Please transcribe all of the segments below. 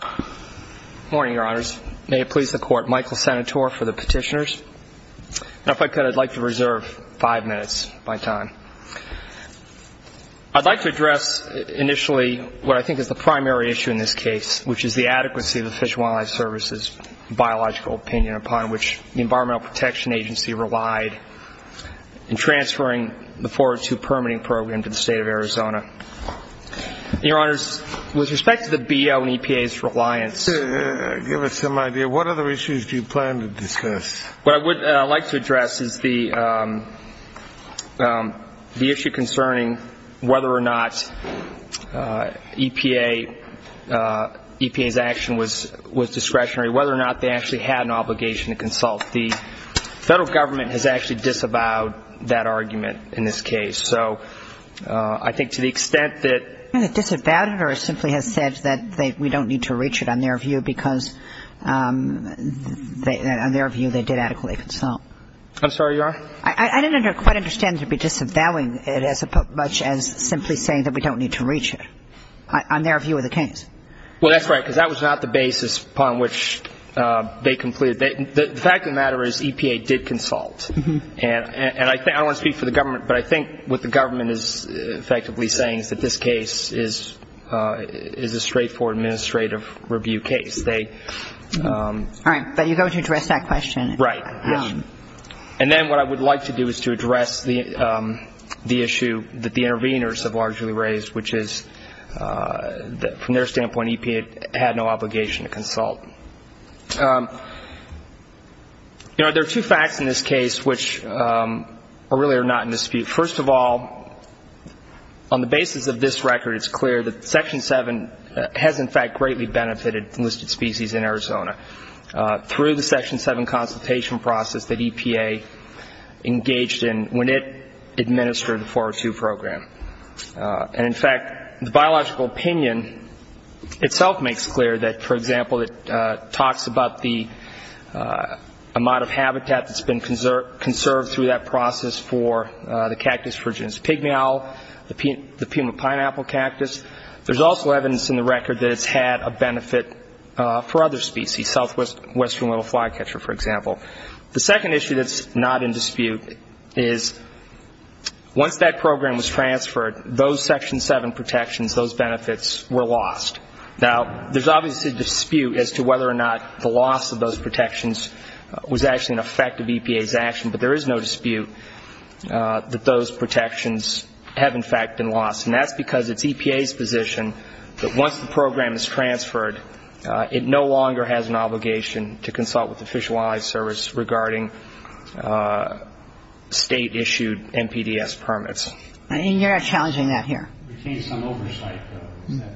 Good morning, Your Honors. May it please the Court, Michael Senator for the Petitioners. Now, if I could, I'd like to reserve five minutes of my time. I'd like to address initially what I think is the primary issue in this case, which is the adequacy of the Fish and Wildlife Service's biological opinion upon which the Environmental Protection Agency relied in transferring the 402 permitting program to the State of Arizona. Your Honors, with respect to the BO and EPA's reliance... Give us some idea. What other issues do you plan to discuss? What I would like to address is the issue concerning whether or not EPA's action was discretionary, whether or not they actually had an obligation to consult. The federal government has actually disavowed that argument in this case. So I think to the extent that... They disavowed it or simply have said that we don't need to reach it on their view because on their view they did adequately consult. I'm sorry, Your Honor? I didn't quite understand to be disavowing it as much as simply saying that we don't need to reach it, on their view of the case. Well, that's right, because that was not the basis upon which they completed. The fact of the matter is EPA did consult. And I don't want to speak for the government, but I think what the government is effectively saying is that this case is a straightforward administrative review case. All right. But you're going to address that question. Right. And then what I would like to do is to address the issue that the interveners have largely raised, which is from their standpoint EPA had no obligation to consult. You know, there are two facts in this case which really are not in dispute. First of all, on the basis of this record, it's clear that Section 7 has, in fact, greatly benefited enlisted species in Arizona through the Section 7 consultation process that EPA engaged in when it administered the 402 program. And, in fact, the biological opinion itself makes clear that, for example, it talks about the amount of habitat that's been conserved through that process for the cactus, Virginia's pygmy owl, the puma pineapple cactus. There's also evidence in the record that it's had a benefit for other species, southwestern little flycatcher, for example. The second issue that's not in dispute is once that program was transferred, those Section 7 protections, those benefits were lost. Now, there's obviously a dispute as to whether or not the loss of those protections was actually an effect of EPA's action, but there is no dispute that those protections have, in fact, been lost. And that's because it's EPA's position that once the program is transferred, it no longer has an obligation to consult with the Fish and Wildlife Service regarding state-issued NPDES permits. I mean, you're not challenging that here. We changed some oversight, though, isn't that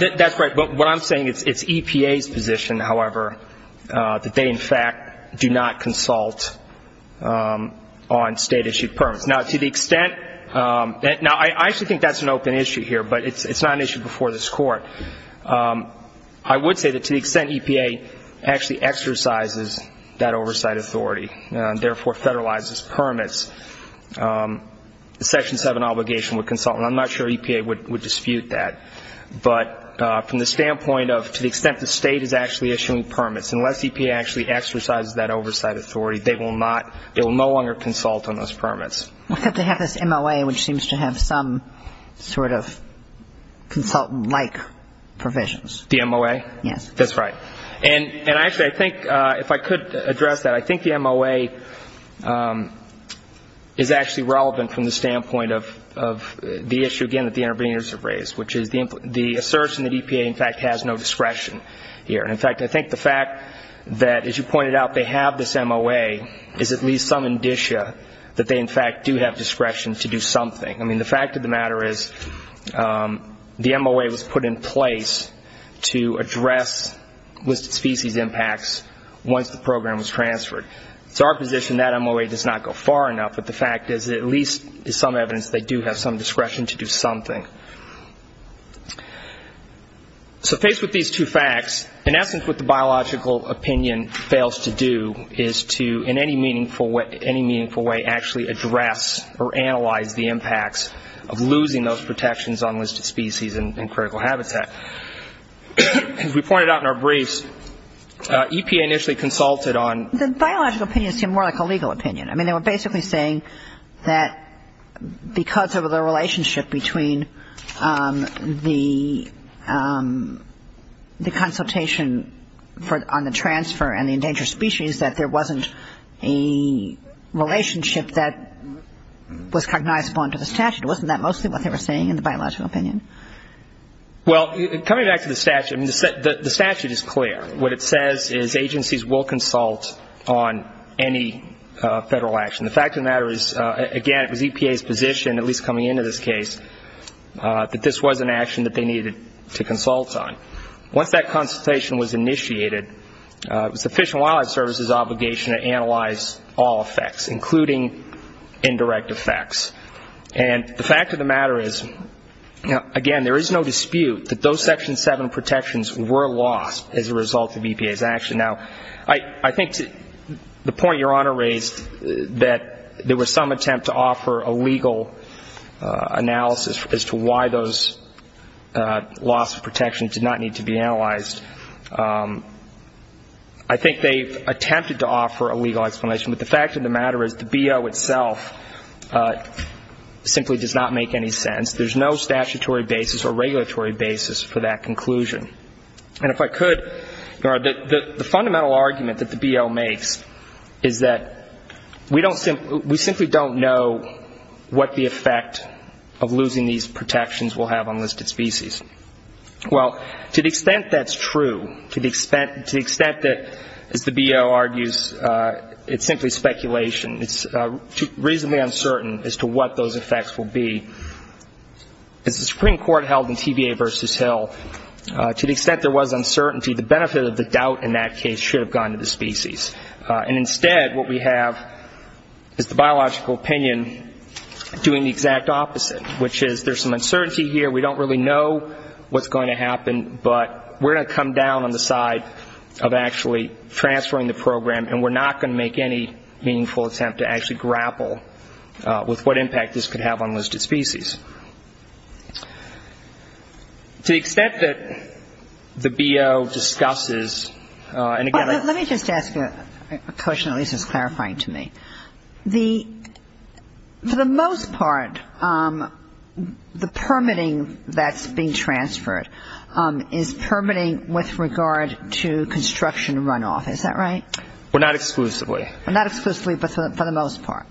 right? That's right. But what I'm saying, it's EPA's position, however, that they, in fact, do not consult on state-issued permits. Now, to the extent that – now, I actually think that's an open issue here, but it's not an issue before this Court. I would say that to the extent EPA actually exercises that oversight authority and therefore federalizes permits, the Section 7 obligation would consult. And I'm not sure EPA would dispute that. But from the standpoint of to the extent the state is actually issuing permits, unless EPA actually exercises that oversight authority, they will not – they will no longer consult on those permits. They have this MOA, which seems to have some sort of consultant-like provisions. The MOA? Yes. That's right. And actually, I think if I could address that, I think the MOA is actually relevant from the standpoint of the issue, again, that the interveners have raised, which is the assertion that EPA, in fact, has no discretion here. In fact, I think the fact that, as you pointed out, they have this MOA is at least some indicia that they, in fact, do have discretion to do something. I mean, the fact of the matter is the MOA was put in place to address listed species impacts once the program was transferred. It's our position that MOA does not go far enough, but the fact is that at least there's some evidence they do have some discretion to do something. So faced with these two facts, in essence what the biological opinion fails to do is to, in any meaningful way, actually address or analyze the impacts of losing those protections on listed species and critical habitat. As we pointed out in our briefs, EPA initially consulted on – The biological opinion seemed more like a legal opinion. I mean, they were basically saying that because of the relationship between the consultation on the transfer and the endangered species, that there wasn't a relationship that was cognizable under the statute. Wasn't that mostly what they were saying in the biological opinion? Well, coming back to the statute, the statute is clear. What it says is agencies will consult on any federal action. The fact of the matter is, again, it was EPA's position, at least coming into this case, that this was an action that they needed to consult on. Once that consultation was initiated, it was the Fish and Wildlife Service's obligation to analyze all effects, including indirect effects. And the fact of the matter is, again, there is no dispute that those Section 7 protections were lost as a result of EPA's action. Now, I think the point Your Honor raised, that there was some attempt to offer a legal analysis as to why those loss of protection did not need to be analyzed, I think they attempted to offer a legal explanation. But the fact of the matter is, the BO itself simply does not make any sense. There's no statutory basis or regulatory basis for that conclusion. And if I could, Your Honor, the fundamental argument that the BO makes is that we simply don't know what the effect of losing these protections will have on listed species. Well, to the extent that's true, to the extent that, as the BO argues, it's simply speculation, it's reasonably uncertain as to what those effects will be. As the Supreme Court held in TVA v. Hill, to the extent there was uncertainty, the benefit of the doubt in that case should have gone to the species. And instead what we have is the biological opinion doing the exact opposite, which is there's some uncertainty here, we don't really know what's going to happen, but we're going to come down on the side of actually transferring the program and we're not going to make any meaningful attempt to actually grapple with what impact this could have on listed species. To the extent that the BO discusses, and again I — Let me just ask a question, at least it's clarifying to me. For the most part, the permitting that's being transferred is permitting with regard to construction runoff. Is that right? Well, not exclusively. Well, not exclusively, but for the most part.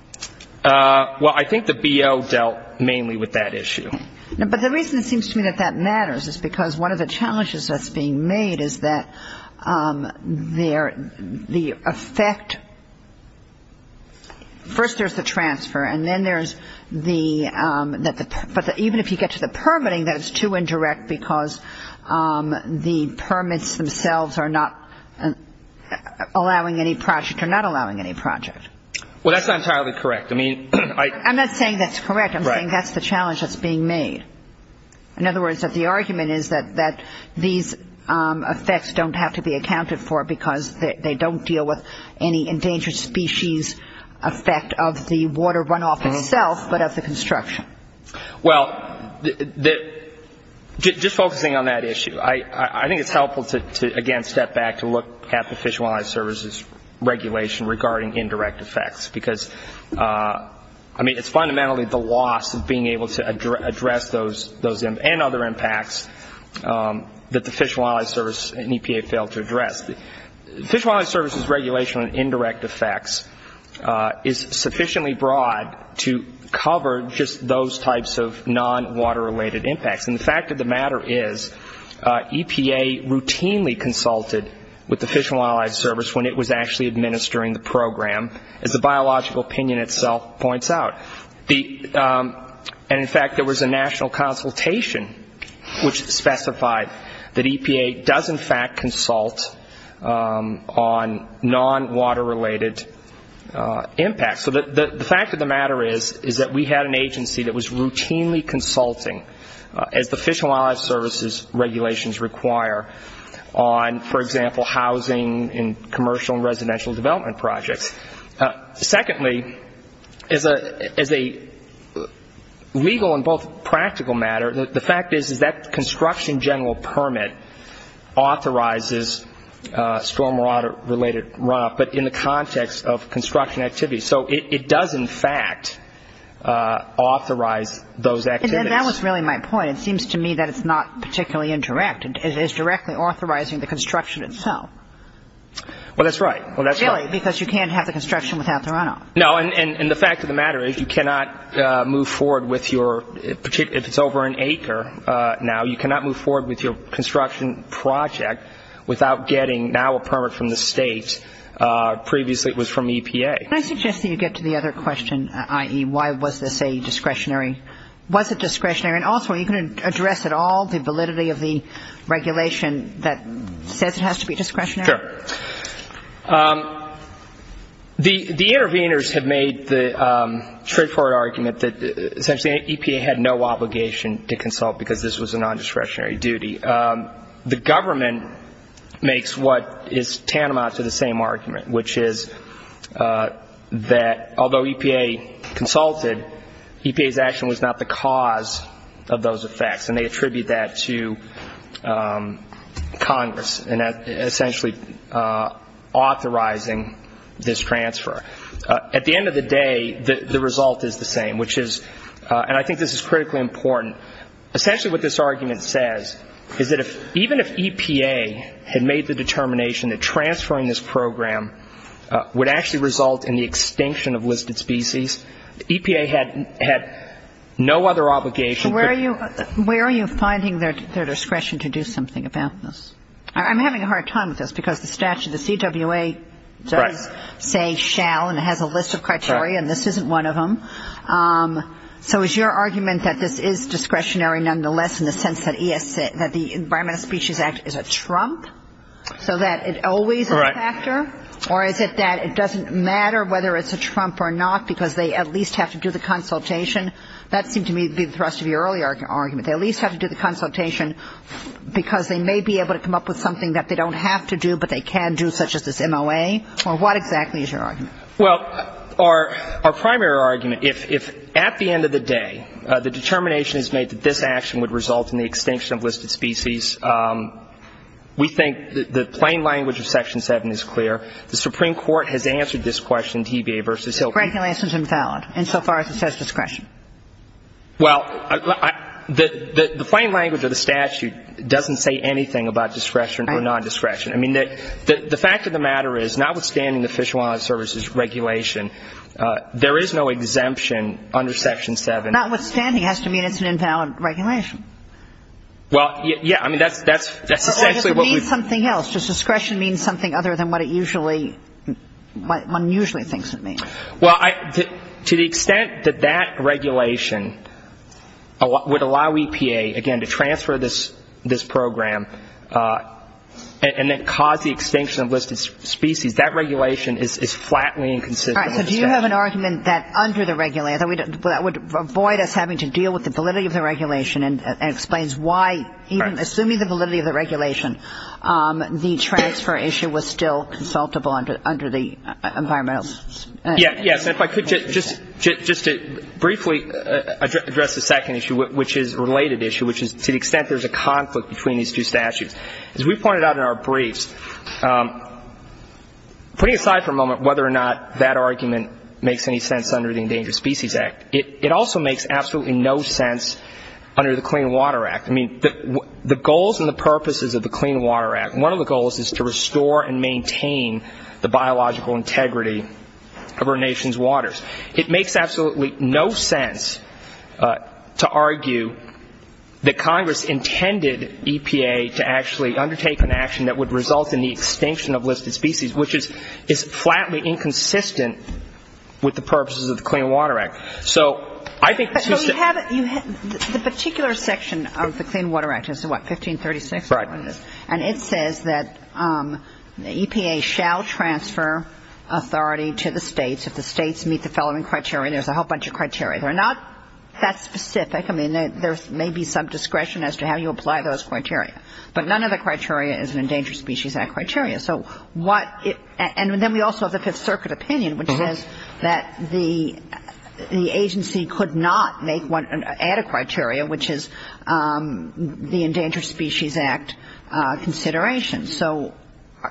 Well, I think the BO dealt mainly with that issue. But the reason it seems to me that that matters is because one of the challenges that's being made is that the effect — first there's the transfer, and then there's the — but even if you get to the permitting, that is too indirect because the permits themselves are not allowing any project or not allowing any project. Well, that's not entirely correct. I mean, I — I'm not saying that's correct. Right. I'm saying that's the challenge that's being made. In other words, that the argument is that these effects don't have to be accounted for because they don't deal with any endangered species effect of the water runoff itself, but of the construction. Well, just focusing on that issue, I think it's helpful to, again, step back to look at the Fish and Wildlife Service's regulation regarding indirect effects because, I mean, it's fundamentally the loss of being able to address those and other impacts that the Fish and Wildlife Service and EPA failed to address. The Fish and Wildlife Service's regulation on indirect effects is sufficiently broad to cover just those types of non-water-related impacts. And the fact of the matter is EPA routinely consulted with the Fish and Wildlife Service when it was actually administering the program, as the biological opinion itself points out. And, in fact, there was a national consultation which specified that EPA does, in fact, consult on non-water-related impacts. So the fact of the matter is that we had an agency that was routinely consulting, as the Fish and Wildlife Service's regulations require, on, for example, housing and commercial and residential development projects. Secondly, as a legal and both practical matter, the fact is that construction general permit authorizes stormwater-related runoff, but in the context of construction activities. So it does, in fact, authorize those activities. And that was really my point. It seems to me that it's not particularly indirect. It is directly authorizing the construction itself. Well, that's right. Really, because you can't have the construction without the runoff. No. And the fact of the matter is you cannot move forward with your, if it's over an acre now, you cannot move forward with your construction project without getting now a permit from the state. Previously it was from EPA. Can I suggest that you get to the other question, i.e., why was this a discretionary? Was it discretionary? And also, are you going to address at all the validity of the regulation that says it has to be discretionary? Sure. The interveners have made the straightforward argument that essentially EPA had no obligation to consult because this was a nondiscretionary duty. The government makes what is tantamount to the same argument, which is that although EPA consulted, EPA's action was not the cause of those effects, and they attribute that to Congress in essentially authorizing this transfer. At the end of the day, the result is the same, which is, and I think this is critically important, essentially what this argument says is that even if EPA had made the determination that transferring this program would actually result in the extinction of listed species, EPA had no other obligation. So where are you finding their discretion to do something about this? I'm having a hard time with this because the statute, the CWA, does say shall, and it has a list of criteria, and this isn't one of them. So is your argument that this is discretionary, nonetheless, in the sense that the Environment and Species Act is a trump so that it always is a factor? Or is it that it doesn't matter whether it's a trump or not because they at least have to do the consultation? That seemed to me to be the thrust of your earlier argument. They at least have to do the consultation because they may be able to come up with something that they don't have to do but they can do, such as this MOA. Or what exactly is your argument? Well, our primary argument, if at the end of the day, the determination is made that this action would result in the extinction of listed species, we think the plain language of Section 7 is clear. The Supreme Court has answered this question, TBA versus HILC. Regulation is invalid insofar as it says discretion. Well, the plain language of the statute doesn't say anything about discretion or non-discretion. I mean, the fact of the matter is, notwithstanding the Fish and Wildlife Service's regulation, there is no exemption under Section 7. Notwithstanding has to mean it's an invalid regulation. Well, yeah. I mean, that's essentially what we've. Or does it mean something else? Does discretion mean something other than what one usually thinks it means? Well, to the extent that that regulation would allow EPA, again, to transfer this program and then cause the extinction of listed species, that regulation is flatly inconsistent. All right. So do you have an argument that under the regulation, that would avoid us having to deal with the validity of the regulation and explains why even assuming the validity of the regulation, the transfer issue was still consultable under the environmental. Yes. And if I could just briefly address the second issue, which is a related issue, which is to the extent there's a conflict between these two statutes. As we pointed out in our briefs, putting aside for a moment whether or not that argument makes any sense under the Endangered Species Act, it also makes absolutely no sense under the Clean Water Act. I mean, the goals and the purposes of the Clean Water Act, one of the goals is to restore and maintain the biological integrity of our nation's waters. It makes absolutely no sense to argue that Congress intended EPA to actually undertake an action that would result in the extinction of listed species, which is flatly inconsistent with the purposes of the Clean Water Act. So I think the system — So you have — the particular section of the Clean Water Act is what, 1536? Right. And it says that EPA shall transfer authority to the states if the states meet the following criteria. There's a whole bunch of criteria. They're not that specific. I mean, there may be some discretion as to how you apply those criteria. But none of the criteria is an Endangered Species Act criteria. So what — and then we also have the Fifth Circuit opinion, which says that the agency could not make one — add a criteria, which is the Endangered Species Act consideration. So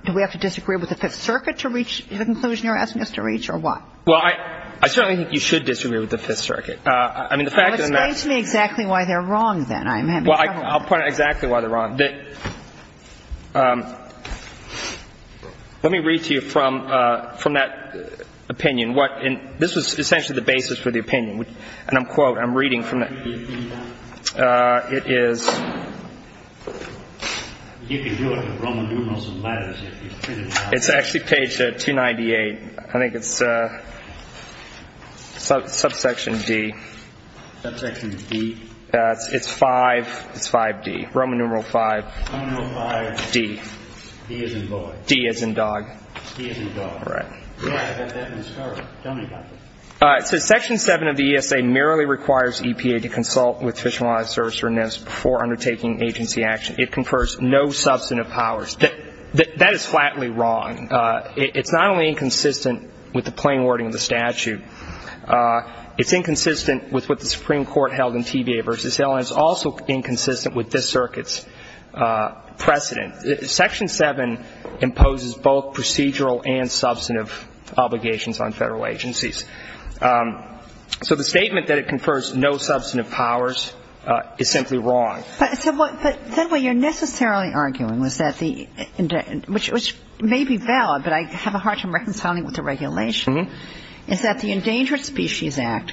do we have to disagree with the Fifth Circuit to reach the conclusion you're asking us to reach, or what? Well, I certainly think you should disagree with the Fifth Circuit. I mean, the fact of the matter — Well, explain to me exactly why they're wrong, then. I'm having trouble. Well, I'll point out exactly why they're wrong. Let me read to you from that opinion what — and this was essentially the basis for the opinion. And I'm quoting. I'm reading from that. It is — It's actually page 298. I think it's subsection D. Subsection D? It's 5D. Roman numeral 5. Roman numeral 5. D. D as in boy. D as in dog. D as in dog. Right. Yeah, that's correct. Tell me about that. It says, That is flatly wrong. It's not only inconsistent with the plain wording of the statute. It's inconsistent with what the Supreme Court held in TVA v. Allen. It's also inconsistent with this circuit's precedent. Section 7 imposes both procedural and substantive obligations on Federal agencies. So the statement that it confers no substantive powers is simply wrong. But then what you're necessarily arguing was that the — which may be valid, but I have a hard time reconciling it with the regulation, is that the Endangered Species Act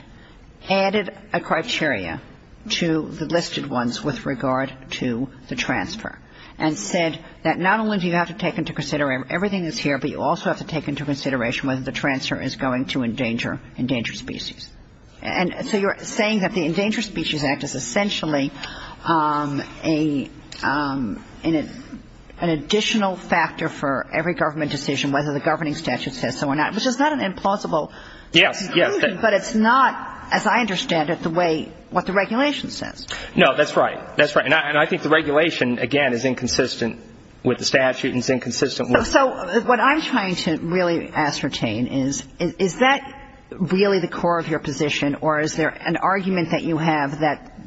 added a criteria to the listed ones with regard to the transfer and said that not only do you have to take into consideration everything that's here, but you also have to take into consideration whether the transfer is going to endanger species. And so you're saying that the Endangered Species Act is essentially an additional factor for every government decision, whether the governing statute says so or not, which is not an implausible conclusion. Yes, yes. But it's not, as I understand it, the way — what the regulation says. No, that's right. That's right. And I think the regulation, again, is inconsistent with the statute and is inconsistent with — So what I'm trying to really ascertain is, is that really the core of your position, or is there an argument that you have that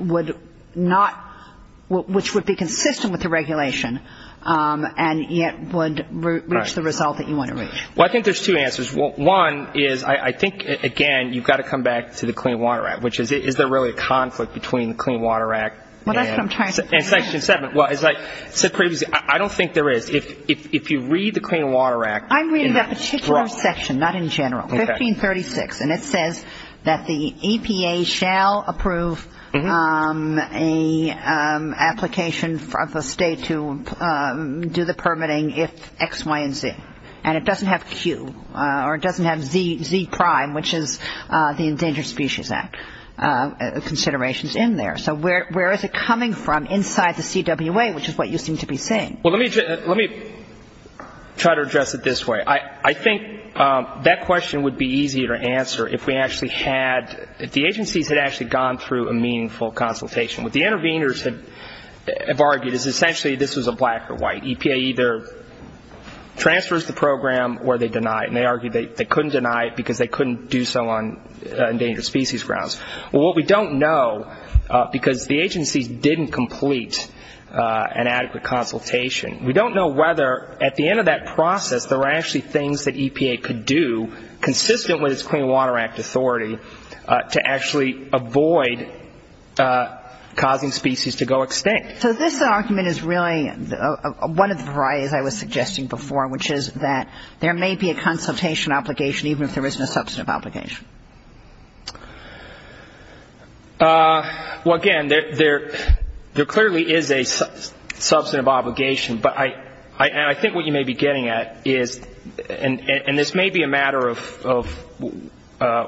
would not — which would be consistent with the regulation and yet would reach the result that you want to reach? Well, I think there's two answers. One is, I think, again, you've got to come back to the Clean Water Act, which is, is there really a conflict between the Clean Water Act and Section 7? Well, as I said previously, I don't think there is. If you read the Clean Water Act — I'm reading that particular section, not in general, 1536, and it says that the EPA shall approve an application of a state to do the permitting if X, Y, and Z. And it doesn't have Q, or it doesn't have Z prime, which is the Endangered Species Act considerations in there. So where is it coming from inside the CWA, which is what you seem to be saying? Well, let me try to address it this way. I think that question would be easier to answer if we actually had — if the agencies had actually gone through a meaningful consultation. What the interveners have argued is essentially this was a black or white. They argued that EPA either transfers the program or they deny it. And they argued they couldn't deny it because they couldn't do so on endangered species grounds. Well, what we don't know, because the agencies didn't complete an adequate consultation, we don't know whether at the end of that process there were actually things that EPA could do, consistent with its Clean Water Act authority, to actually avoid causing species to go extinct. So this argument is really one of the varieties I was suggesting before, which is that there may be a consultation obligation even if there isn't a substantive obligation. Well, again, there clearly is a substantive obligation. But I think what you may be getting at is — and this may be a matter of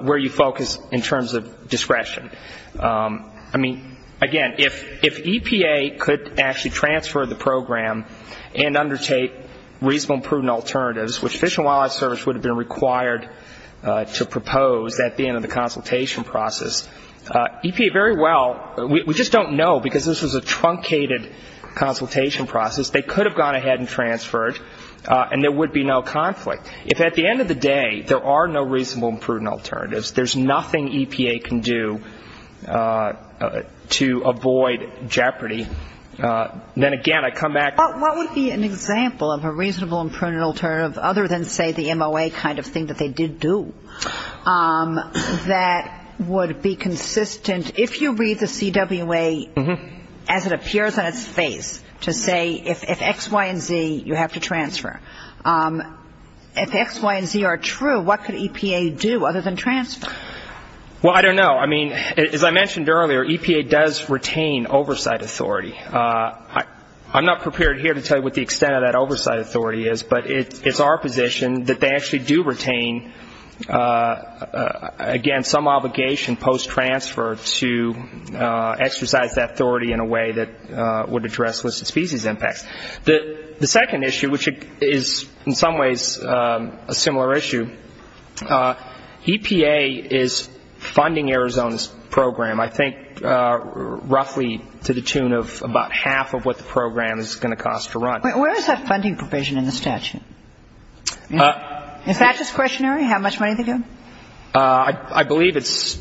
where you focus in terms of discretion. I mean, again, if EPA could actually transfer the program and undertake reasonable and prudent alternatives, which Fish and Wildlife Service would have been required to propose at the end of the consultation process, EPA very well — we just don't know because this was a truncated consultation process. They could have gone ahead and transferred and there would be no conflict. If at the end of the day there are no reasonable and prudent alternatives, there's nothing EPA can do to avoid jeopardy. Then again, I come back — But what would be an example of a reasonable and prudent alternative other than, say, the MOA kind of thing that they did do that would be consistent? If you read the CWA as it appears on its face to say if X, Y, and Z you have to transfer, if X, Y, and Z are true, what could EPA do other than transfer? Well, I don't know. I mean, as I mentioned earlier, EPA does retain oversight authority. I'm not prepared here to tell you what the extent of that oversight authority is, but it's our position that they actually do retain, again, some obligation post-transfer to exercise that authority in a way that would address listed species impacts. The second issue, which is in some ways a similar issue, EPA is funding Arizona's program, I think roughly to the tune of about half of what the program is going to cost to run. Where is that funding provision in the statute? Is that discretionary, how much money they give? I believe it's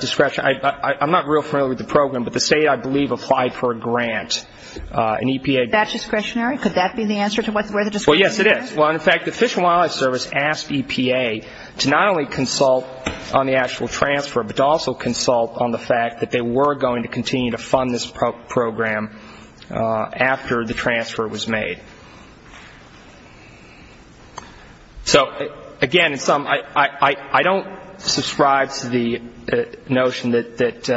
discretionary. I'm not real familiar with the program, but the state, I believe, applied for a grant, an EPA grant. Is that discretionary? Could that be the answer to where the discretionary is? Well, yes, it is. Well, in fact, the Fish and Wildlife Service asked EPA to not only consult on the actual transfer, but to also consult on the fact that they were going to continue to fund this program after the transfer was made. So, again, I don't subscribe to the notion that,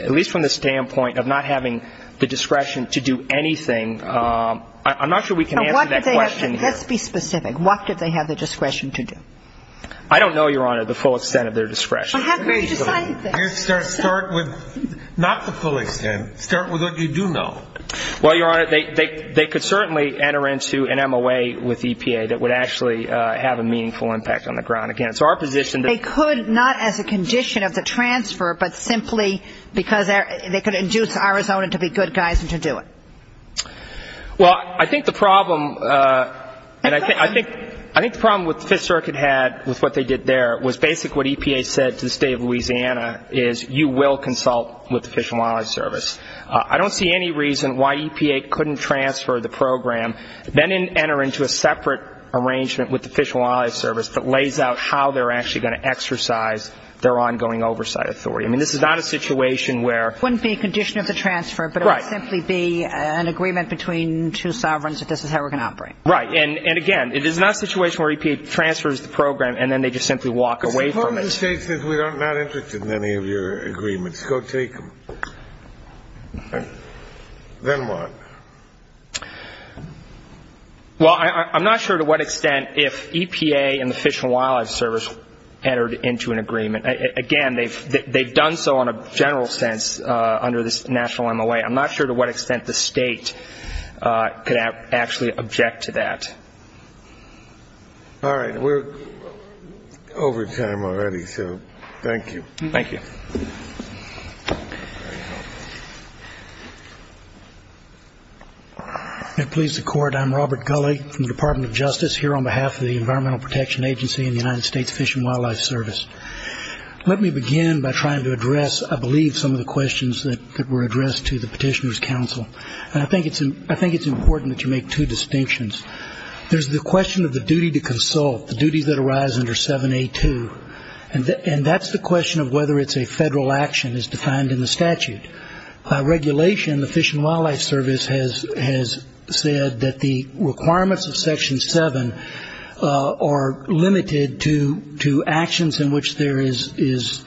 at least from the standpoint of not having the discretion to do anything, I'm not sure we can answer that question here. Let's be specific. What did they have the discretion to do? I don't know, Your Honor, the full extent of their discretion. Well, how can we decide that? Start with not the full extent. Start with what you do know. Well, Your Honor, they could certainly enter into an MOA with EPA that would actually have a meaningful impact on the ground. Again, it's our position that they could not as a condition of the transfer, but simply because they could induce Arizona to be good guys and to do it. Well, I think the problem with what the Fifth Circuit had with what they did there was basically what EPA said to the State of Louisiana is you will consult with the Fish and Wildlife Service. I don't see any reason why EPA couldn't transfer the program, then enter into a separate arrangement with the Fish and Wildlife Service that lays out how they're actually going to I mean, this is not a situation where It wouldn't be a condition of the transfer, but it would simply be an agreement between two sovereigns that this is how we're going to operate. Right. And, again, it is not a situation where EPA transfers the program and then they just simply walk away from it. It's important to state that we are not interested in any of your agreements. Go take them. Then what? Well, I'm not sure to what extent if EPA and the Fish and Wildlife Service entered into an agreement. Again, they've done so in a general sense under this national MOA. I'm not sure to what extent the state could actually object to that. All right. We're over time already, so thank you. Thank you. Thank you. And please, the Court, I'm Robert Gulley from the Department of Justice, here on behalf of the Environmental Protection Agency and the United States Fish and Wildlife Service. Let me begin by trying to address, I believe, some of the questions that were addressed to the Petitioner's Council. And I think it's important that you make two distinctions. There's the question of the duty to consult, the duties that arise under 7A2, and that's the question of whether it's a federal action as defined in the statute. By regulation, the Fish and Wildlife Service has said that the requirements of Section 7 are limited to actions in which there is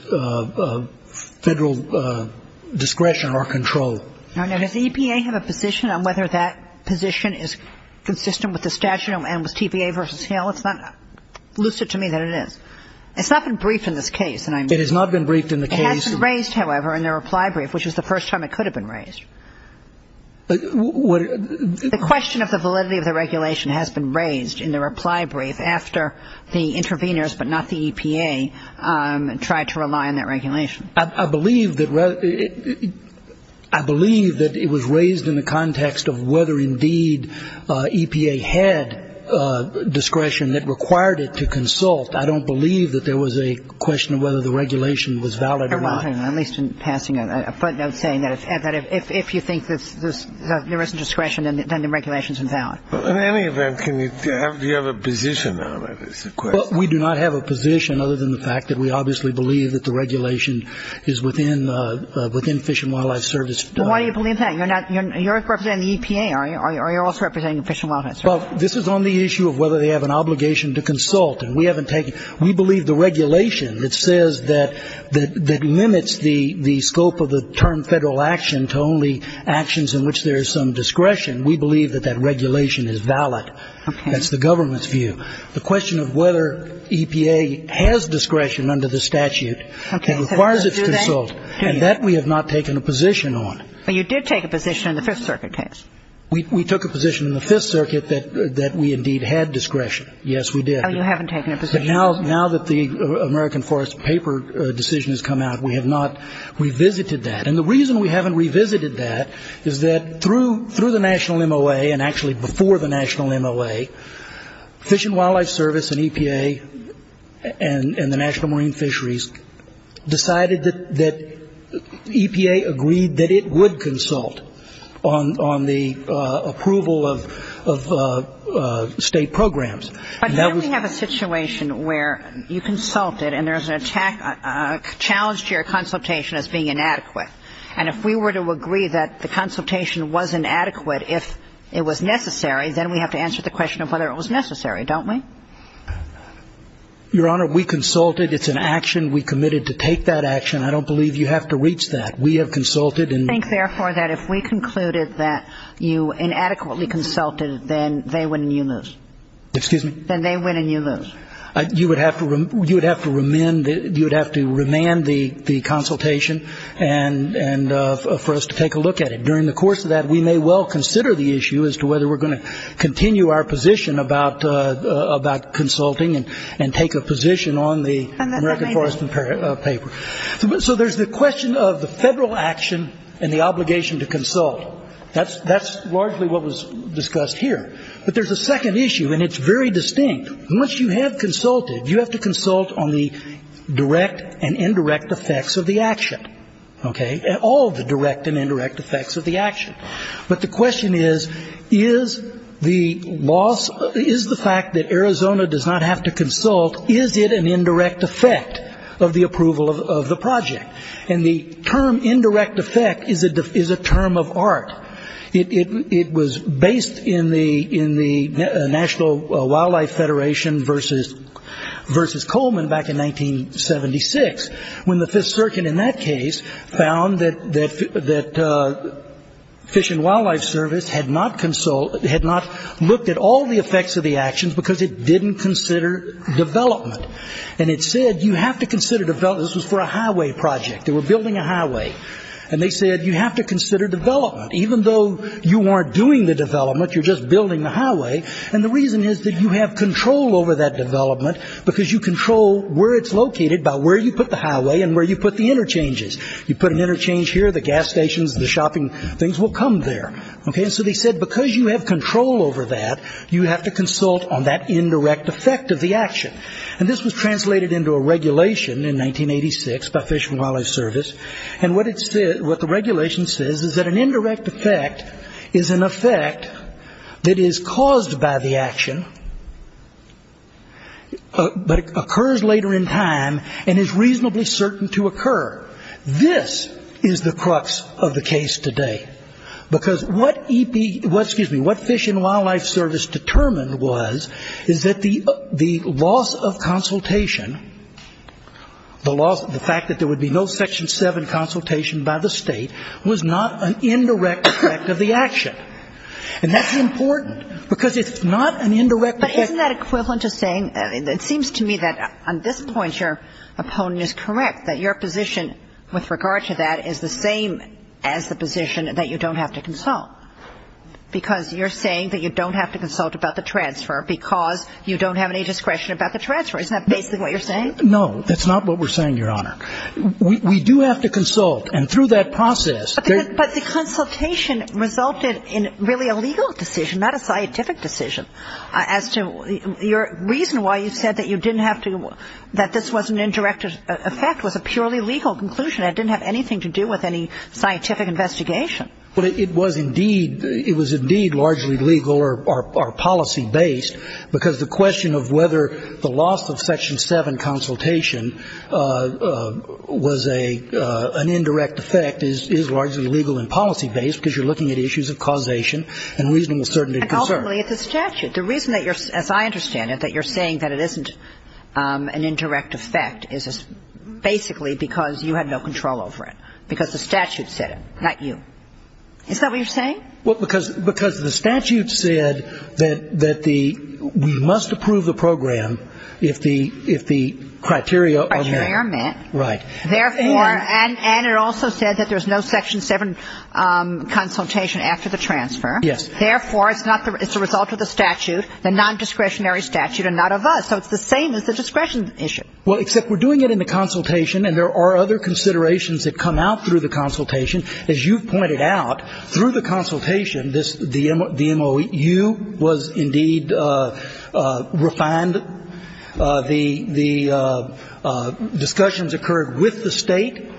federal discretion or control. Now, now, does the EPA have a position on whether that position is consistent with the statute and was TPA versus HAL? It's not lucid to me that it is. It's not been briefed in this case. It has not been briefed in the case. It has been raised, however, in the reply brief, which is the first time it could have been raised. The question of the validity of the regulation has been raised in the reply brief after the interveners, but not the EPA, tried to rely on that regulation. I believe that it was raised in the context of whether, indeed, EPA had discretion that required it to consult. I don't believe that there was a question of whether the regulation was valid or not. At least in passing a footnote saying that if you think there isn't discretion, then the regulation is invalid. In any event, do you have a position on it as a question? Well, we do not have a position other than the fact that we obviously believe that the regulation is within Fish and Wildlife Service. But why do you believe that? You're representing the EPA. You're also representing Fish and Wildlife Service. Well, this is on the issue of whether they have an obligation to consult, and we haven't taken it. We believe the regulation that says that limits the scope of the term federal action to only actions in which there is some discretion, we believe that that regulation is valid. Okay. That's the government's view. The question of whether EPA has discretion under the statute requires it to consult, and that we have not taken a position on. But you did take a position in the Fifth Circuit case. We took a position in the Fifth Circuit that we indeed had discretion. Yes, we did. Oh, you haven't taken a position. But now that the American Forest Paper decision has come out, we have not revisited that. And the reason we haven't revisited that is that through the national MOA and actually before the national MOA, Fish and Wildlife Service and EPA and the National Marine Fisheries decided that EPA agreed that it would consult on the approval of state programs. But then we have a situation where you consulted and there's a challenge to your consultation as being inadequate. And if we were to agree that the consultation was inadequate, if it was necessary, then we have to answer the question of whether it was necessary, don't we? Your Honor, we consulted. It's an action. We committed to take that action. I don't believe you have to reach that. We have consulted. I think, therefore, that if we concluded that you inadequately consulted, then they win and you lose. Excuse me? Then they win and you lose. You would have to remand the consultation and for us to take a look at it. During the course of that, we may well consider the issue as to whether we're going to continue our position about consulting and take a position on the American Forestry paper. So there's the question of the federal action and the obligation to consult. That's largely what was discussed here. But there's a second issue, and it's very distinct. Once you have consulted, you have to consult on the direct and indirect effects of the action, okay, not all the direct and indirect effects of the action. But the question is, is the fact that Arizona does not have to consult, is it an indirect effect of the approval of the project? And the term indirect effect is a term of art. It was based in the National Wildlife Federation versus Coleman back in 1976 when the Fifth Circuit in that case found that Fish and Wildlife Service had not looked at all the effects of the actions because it didn't consider development. And it said you have to consider development. This was for a highway project. They were building a highway. And they said you have to consider development. Even though you aren't doing the development, you're just building the highway. And the reason is that you have control over that development because you control where it's located by where you put the highway and where you put the interchanges. You put an interchange here, the gas stations, the shopping things will come there, okay? And so they said because you have control over that, you have to consult on that indirect effect of the action. And this was translated into a regulation in 1986 by Fish and Wildlife Service. And what the regulation says is that an indirect effect is an effect that is caused by the action but occurs later in time and is reasonably certain to occur. This is the crux of the case today because what Fish and Wildlife Service determined was is that the loss of consultation, the fact that there would be no Section 7 consultation by the State was not an indirect effect of the action. And that's important because it's not an indirect effect. But isn't that equivalent to saying it seems to me that on this point your opponent is correct, that your position with regard to that is the same as the position that you don't have to consult because you're saying that you don't have to consult about the transfer because you don't have any discretion about the transfer. Isn't that basically what you're saying? No. That's not what we're saying, Your Honor. We do have to consult. And through that process ‑‑ But the consultation resulted in really a legal decision, not a scientific decision. As to your reason why you said that you didn't have to ‑‑ that this was an indirect effect was a purely legal conclusion. It didn't have anything to do with any scientific investigation. Well, it was indeed ‑‑ it was indeed largely legal or policy-based, because the question of whether the loss of Section 7 consultation was an indirect effect is largely legal and policy-based because you're looking at issues of causation and reasonable certainty of concern. And ultimately, it's a statute. The reason that you're ‑‑ as I understand it, that you're saying that it isn't an indirect effect is basically because you had no control over it, because the statute said it, not you. Isn't that what you're saying? Well, because the statute said that we must approve the program if the criteria are met. Right. And it also said that there's no Section 7 consultation after the transfer. Yes. Therefore, it's a result of the statute, the nondiscretionary statute, and not of us. So it's the same as the discretion issue. Well, except we're doing it in the consultation, and there are other considerations that come out through the consultation. As you've pointed out, through the consultation, the MOU was indeed refined. The discussions occurred with the State.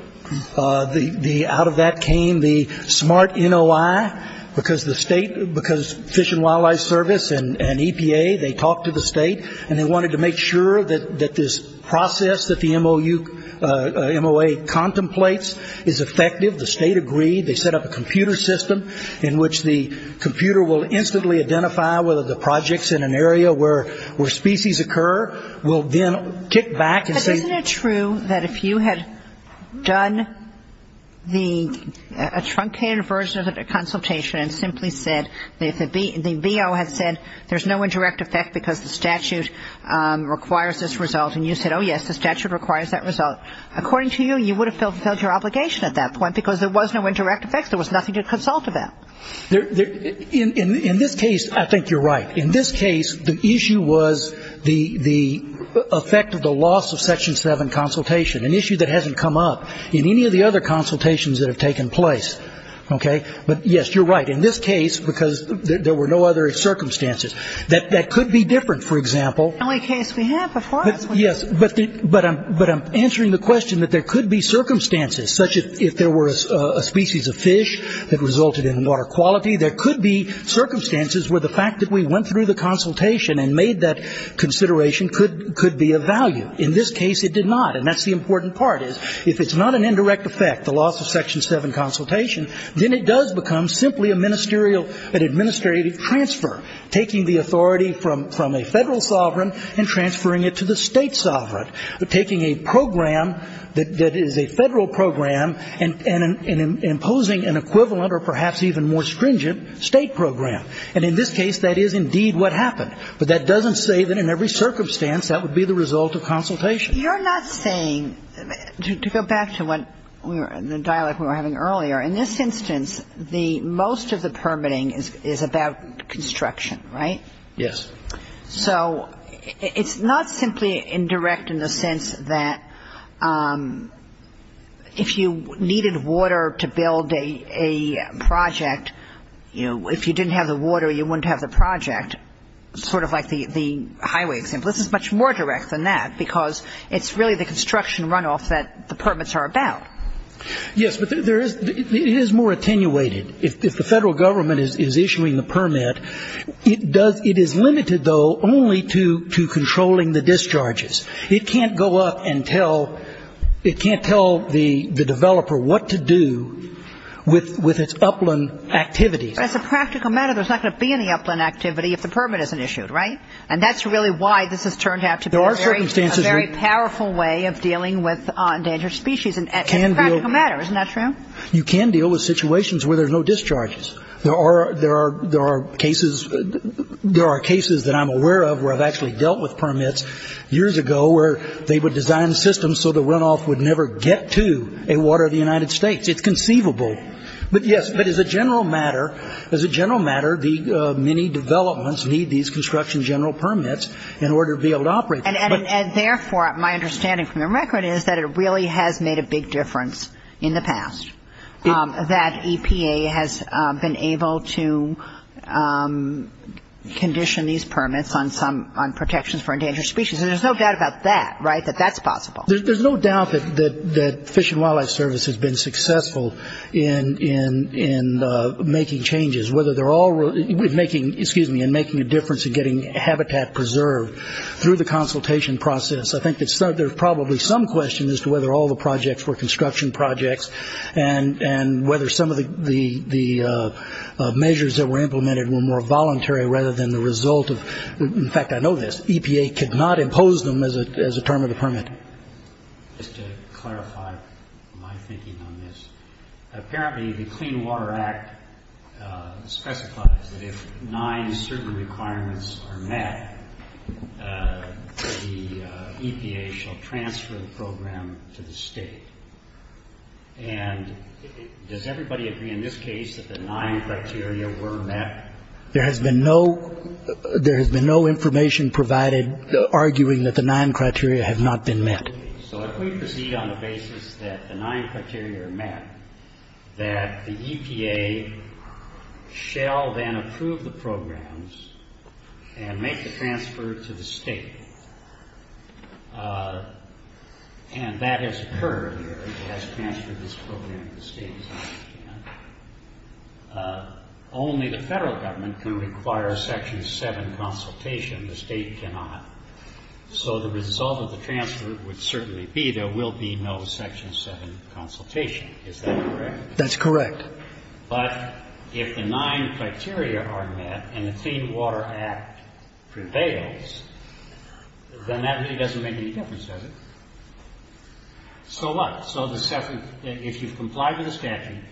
Out of that came the SMART NOI, because the State, because Fish and Wildlife Service and EPA, they talked to the State, and they wanted to make sure that this process that the MOA contemplates is effective. The State agreed. They set up a computer system in which the computer will instantly identify whether the projects in an area where species occur will then kick back and say ‑‑ But isn't it true that if you had done the ‑‑ a truncated version of the consultation and simply said, if the BO had said there's no indirect effect because the statute requires this result, and you said, oh, yes, the statute requires that result, according to you, you would have fulfilled your obligation at that point, because there was no indirect effect. There was nothing to consult about. In this case, I think you're right. In this case, the issue was the effect of the loss of Section 7 consultation, an issue that hasn't come up in any of the other consultations that have taken place. Okay? But, yes, you're right. In this case, because there were no other circumstances, that could be different, for example. The only case we have before us. Yes, but I'm answering the question that there could be circumstances, such as if there were a species of fish that resulted in water quality. There could be circumstances where the fact that we went through the consultation and made that consideration could be of value. In this case, it did not. And that's the important part, is if it's not an indirect effect, the loss of Section 7 consultation, then it does become simply a ministerial and administrative transfer, taking the authority from a Federal sovereign and transferring it to the State sovereign. Taking a program that is a Federal program and imposing an equivalent or perhaps even more stringent State program. And in this case, that is indeed what happened. But that doesn't say that in every circumstance that would be the result of consultation. You're not saying, to go back to the dialogue we were having earlier, in this instance, most of the permitting is about construction, right? Yes. So it's not simply indirect in the sense that if you needed water to build a project, if you didn't have the water, you wouldn't have the project, sort of like the highway example. This is much more direct than that because it's really the construction runoff that the permits are about. Yes. But it is more attenuated. If the Federal Government is issuing the permit, it is limited, though, only to controlling the discharges. It can't go up and tell the developer what to do with its upland activities. As a practical matter, there's not going to be any upland activity if the permit isn't issued, right? And that's really why this has turned out to be a very powerful way of dealing with endangered species. It's a practical matter. Isn't that true? You can deal with situations where there's no discharges. There are cases that I'm aware of where I've actually dealt with permits years ago where they would design systems so the runoff would never get to a water of the United States. It's conceivable. But, yes, but as a general matter, as a general matter, the many developments need these construction general permits in order to be able to operate. And, therefore, my understanding from the record is that it really has made a big difference in the past, that EPA has been able to condition these permits on protections for endangered species. And there's no doubt about that, right, that that's possible. There's no doubt that Fish and Wildlife Service has been successful in making changes, and making a difference in getting habitat preserved through the consultation process. I think there's probably some question as to whether all the projects were construction projects and whether some of the measures that were implemented were more voluntary rather than the result of, in fact, I know this, EPA could not impose them as a term of the permit. Just to clarify my thinking on this, apparently the Clean Water Act specifies that if nine certain requirements are met, the EPA shall transfer the program to the State. And does everybody agree in this case that the nine criteria were met? There has been no information provided arguing that the nine criteria have not been met. So if we proceed on the basis that the nine criteria are met, that the EPA shall then approve the programs and make the transfer to the State. And that has occurred here. It has transferred this program to the State, as I understand it. Only the Federal Government can require Section 7 consultation. The State cannot. So the result of the transfer would certainly be there will be no Section 7 consultation. Is that correct? That's correct. But if the nine criteria are met and the Clean Water Act prevails, then that really doesn't make any difference, does it? So what? So if you've complied with the statute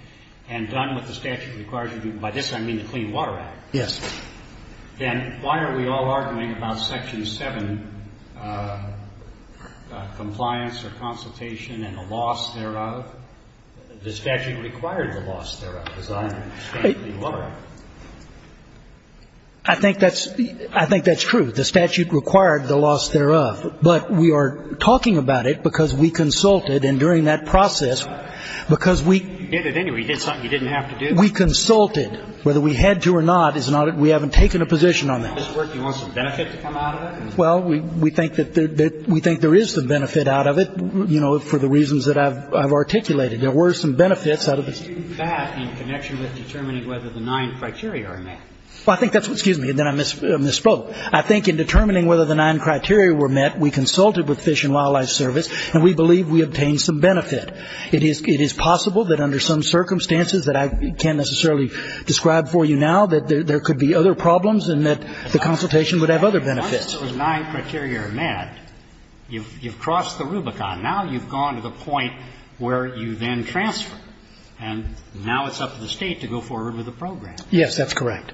and done what the statute requires you to do, by this I mean the Clean Water Act. Yes. Then why are we all arguing about Section 7 compliance or consultation and a loss thereof? The statute required the loss thereof, as I understand the Clean Water Act. I think that's true. The statute required the loss thereof. But we are talking about it because we consulted. And during that process, because we did it anyway. You did something you didn't have to do. We consulted. Whether we had to or not, we haven't taken a position on that. Do you want some benefit to come out of it? Well, we think there is some benefit out of it, you know, for the reasons that I've articulated. There were some benefits out of it. You did that in connection with determining whether the nine criteria are met. Well, I think that's what – excuse me. Then I misspoke. I think in determining whether the nine criteria were met, we consulted with Fish and Wildlife Service, and we believe we obtained some benefit. It is possible that under some circumstances that I can't necessarily describe for you now, that there could be other problems and that the consultation would have other benefits. Once those nine criteria are met, you've crossed the Rubicon. Now you've gone to the point where you then transfer. And now it's up to the State to go forward with the program. Yes, that's correct.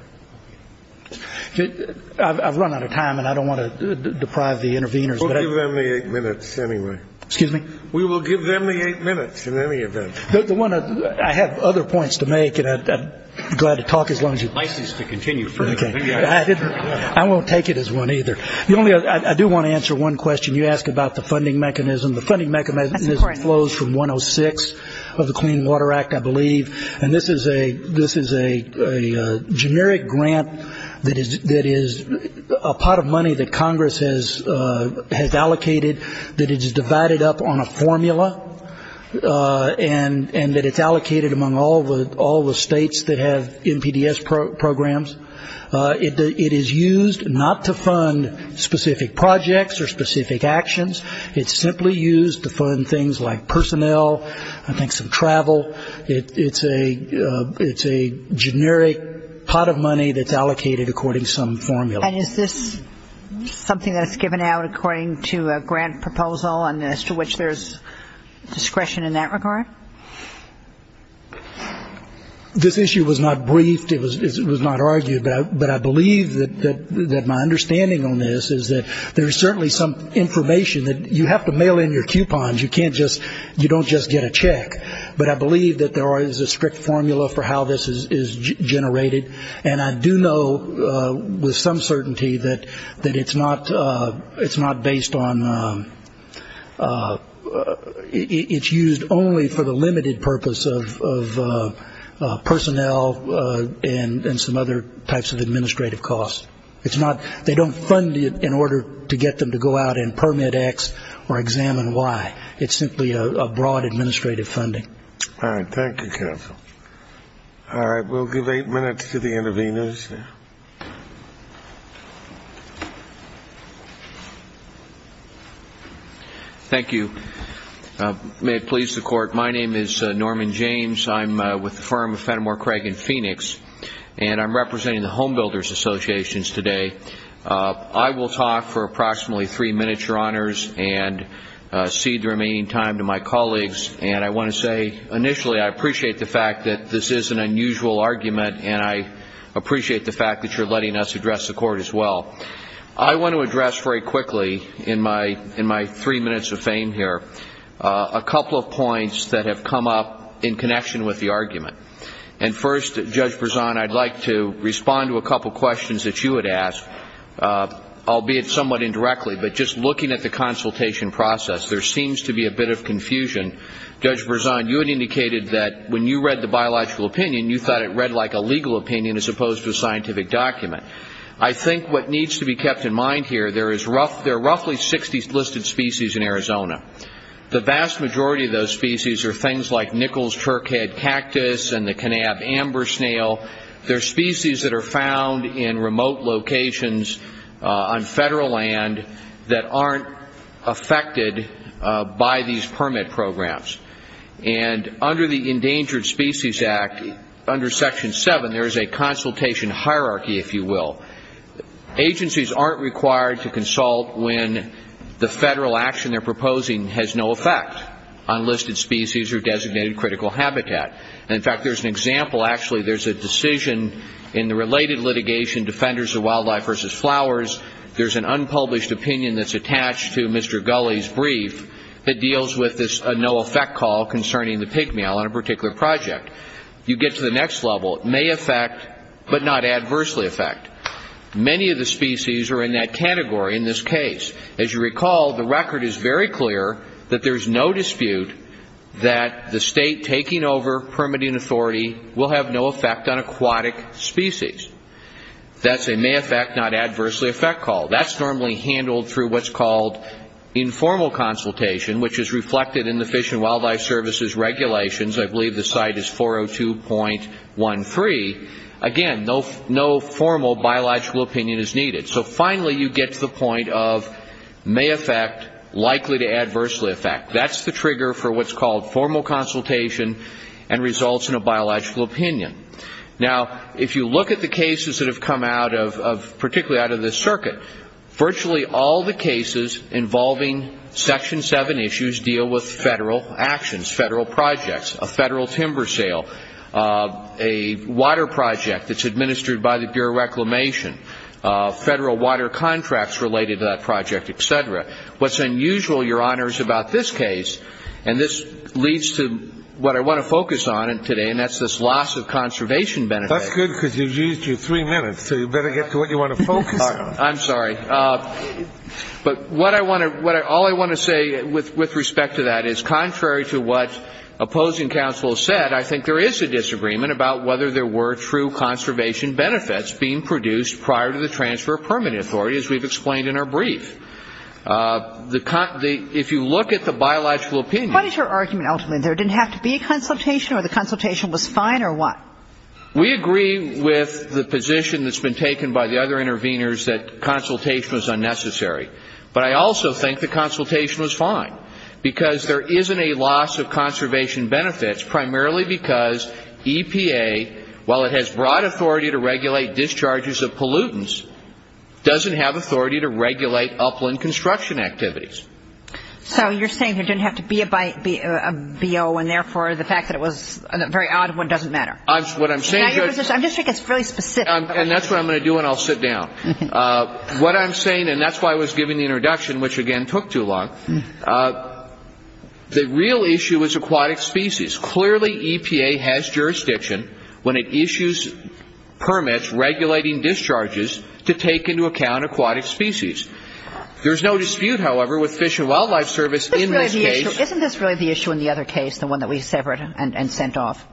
I've run out of time, and I don't want to deprive the interveners. We'll give them the eight minutes anyway. Excuse me? We will give them the eight minutes in any event. The one that – I have other points to make, and I'm glad to talk as long as you'd like me to. License to continue further. I won't take it as one either. I do want to answer one question you asked about the funding mechanism. The funding mechanism flows from 106 of the Clean Water Act, I believe. And this is a generic grant that is a pot of money that Congress has allocated that is divided up on a formula and that it's allocated among all the states that have NPDES programs. It is used not to fund specific projects or specific actions. It's simply used to fund things like personnel, I think some travel. It's a generic pot of money that's allocated according to some formula. And is this something that's given out according to a grant proposal and as to which there's discretion in that regard? This issue was not briefed. It was not argued. But I believe that my understanding on this is that there is certainly some information that you have to mail in your coupons. You can't just – you don't just get a check. But I believe that there is a strict formula for how this is generated. And I do know with some certainty that it's not based on – it's used only for the limited purpose of personnel and some other types of administrative costs. It's not – they don't fund it in order to get them to go out and permit X or examine Y. It's simply a broad administrative funding. All right. Thank you, counsel. All right. We'll give eight minutes to the interveners. Thank you. May it please the Court. My name is Norman James. I'm with the firm of Fenimore, Craig, and Phoenix. And I'm representing the Home Builders Associations today. I will talk for approximately three minutes, Your Honors, and cede the remaining time to my colleagues. And I want to say initially I appreciate the fact that this is an unusual argument, and I appreciate the fact that you're letting us address the Court as well. I want to address very quickly in my three minutes of fame here a couple of points that have come up in connection with the argument. And first, Judge Berzon, I'd like to respond to a couple questions that you had asked, albeit somewhat indirectly. But just looking at the consultation process, there seems to be a bit of confusion. Judge Berzon, you had indicated that when you read the biological opinion, you thought it read like a legal opinion as opposed to a scientific document. I think what needs to be kept in mind here, there are roughly 60 listed species in Arizona. The vast majority of those species are things like nickels, turkhead, cactus, and the Kanab amber snail. They're species that are found in remote locations on federal land that aren't affected by these permit programs. And under the Endangered Species Act, under Section 7, there is a consultation hierarchy, if you will. Agencies aren't required to consult when the federal action they're proposing has no effect on listed species or designated critical habitat. In fact, there's an example, actually. There's a decision in the related litigation, Defenders of Wildlife v. Flowers. There's an unpublished opinion that's attached to Mr. Gulley's brief that deals with this no effect call concerning the pig male on a particular project. You get to the next level, may affect but not adversely affect. Many of the species are in that category in this case. As you recall, the record is very clear that there's no dispute that the state taking over permitting authority will have no effect on aquatic species. That's a may affect not adversely affect call. That's normally handled through what's called informal consultation, which is reflected in the Fish and Wildlife Service's regulations. I believe the site is 402.13. Again, no formal biological opinion is needed. So finally you get to the point of may affect, likely to adversely affect. That's the trigger for what's called formal consultation and results in a biological opinion. Now, if you look at the cases that have come out of, particularly out of this circuit, virtually all the cases involving Section 7 issues deal with federal actions, federal projects, a federal timber sale, a water project that's administered by the Bureau of Reclamation, federal water contracts related to that project, et cetera. What's unusual, Your Honors, about this case, and this leads to what I want to focus on today, and that's this loss of conservation benefits. That's good because you've used your three minutes, so you better get to what you want to focus on. I'm sorry. But what I want to, all I want to say with respect to that is contrary to what opposing counsel said, I think there is a disagreement about whether there were true conservation benefits being produced prior to the transfer of permanent authority, as we've explained in our brief. If you look at the biological opinion. What is your argument ultimately? There didn't have to be a consultation or the consultation was fine or what? We agree with the position that's been taken by the other interveners that consultation was unnecessary. But I also think the consultation was fine because there isn't a loss of conservation benefits, primarily because EPA, while it has broad authority to regulate discharges of pollutants, doesn't have authority to regulate upland construction activities. So you're saying there didn't have to be a BO, and therefore the fact that it was a very odd one doesn't matter. I'm just saying it's really specific. And that's what I'm going to do, and I'll sit down. What I'm saying, and that's why I was giving the introduction, which again took too long, the real issue is aquatic species. Clearly EPA has jurisdiction when it issues permits regulating discharges to take into account aquatic species. There's no dispute, however, with Fish and Wildlife Service in this case. Isn't this really the issue in the other case, the one that we severed and sent off?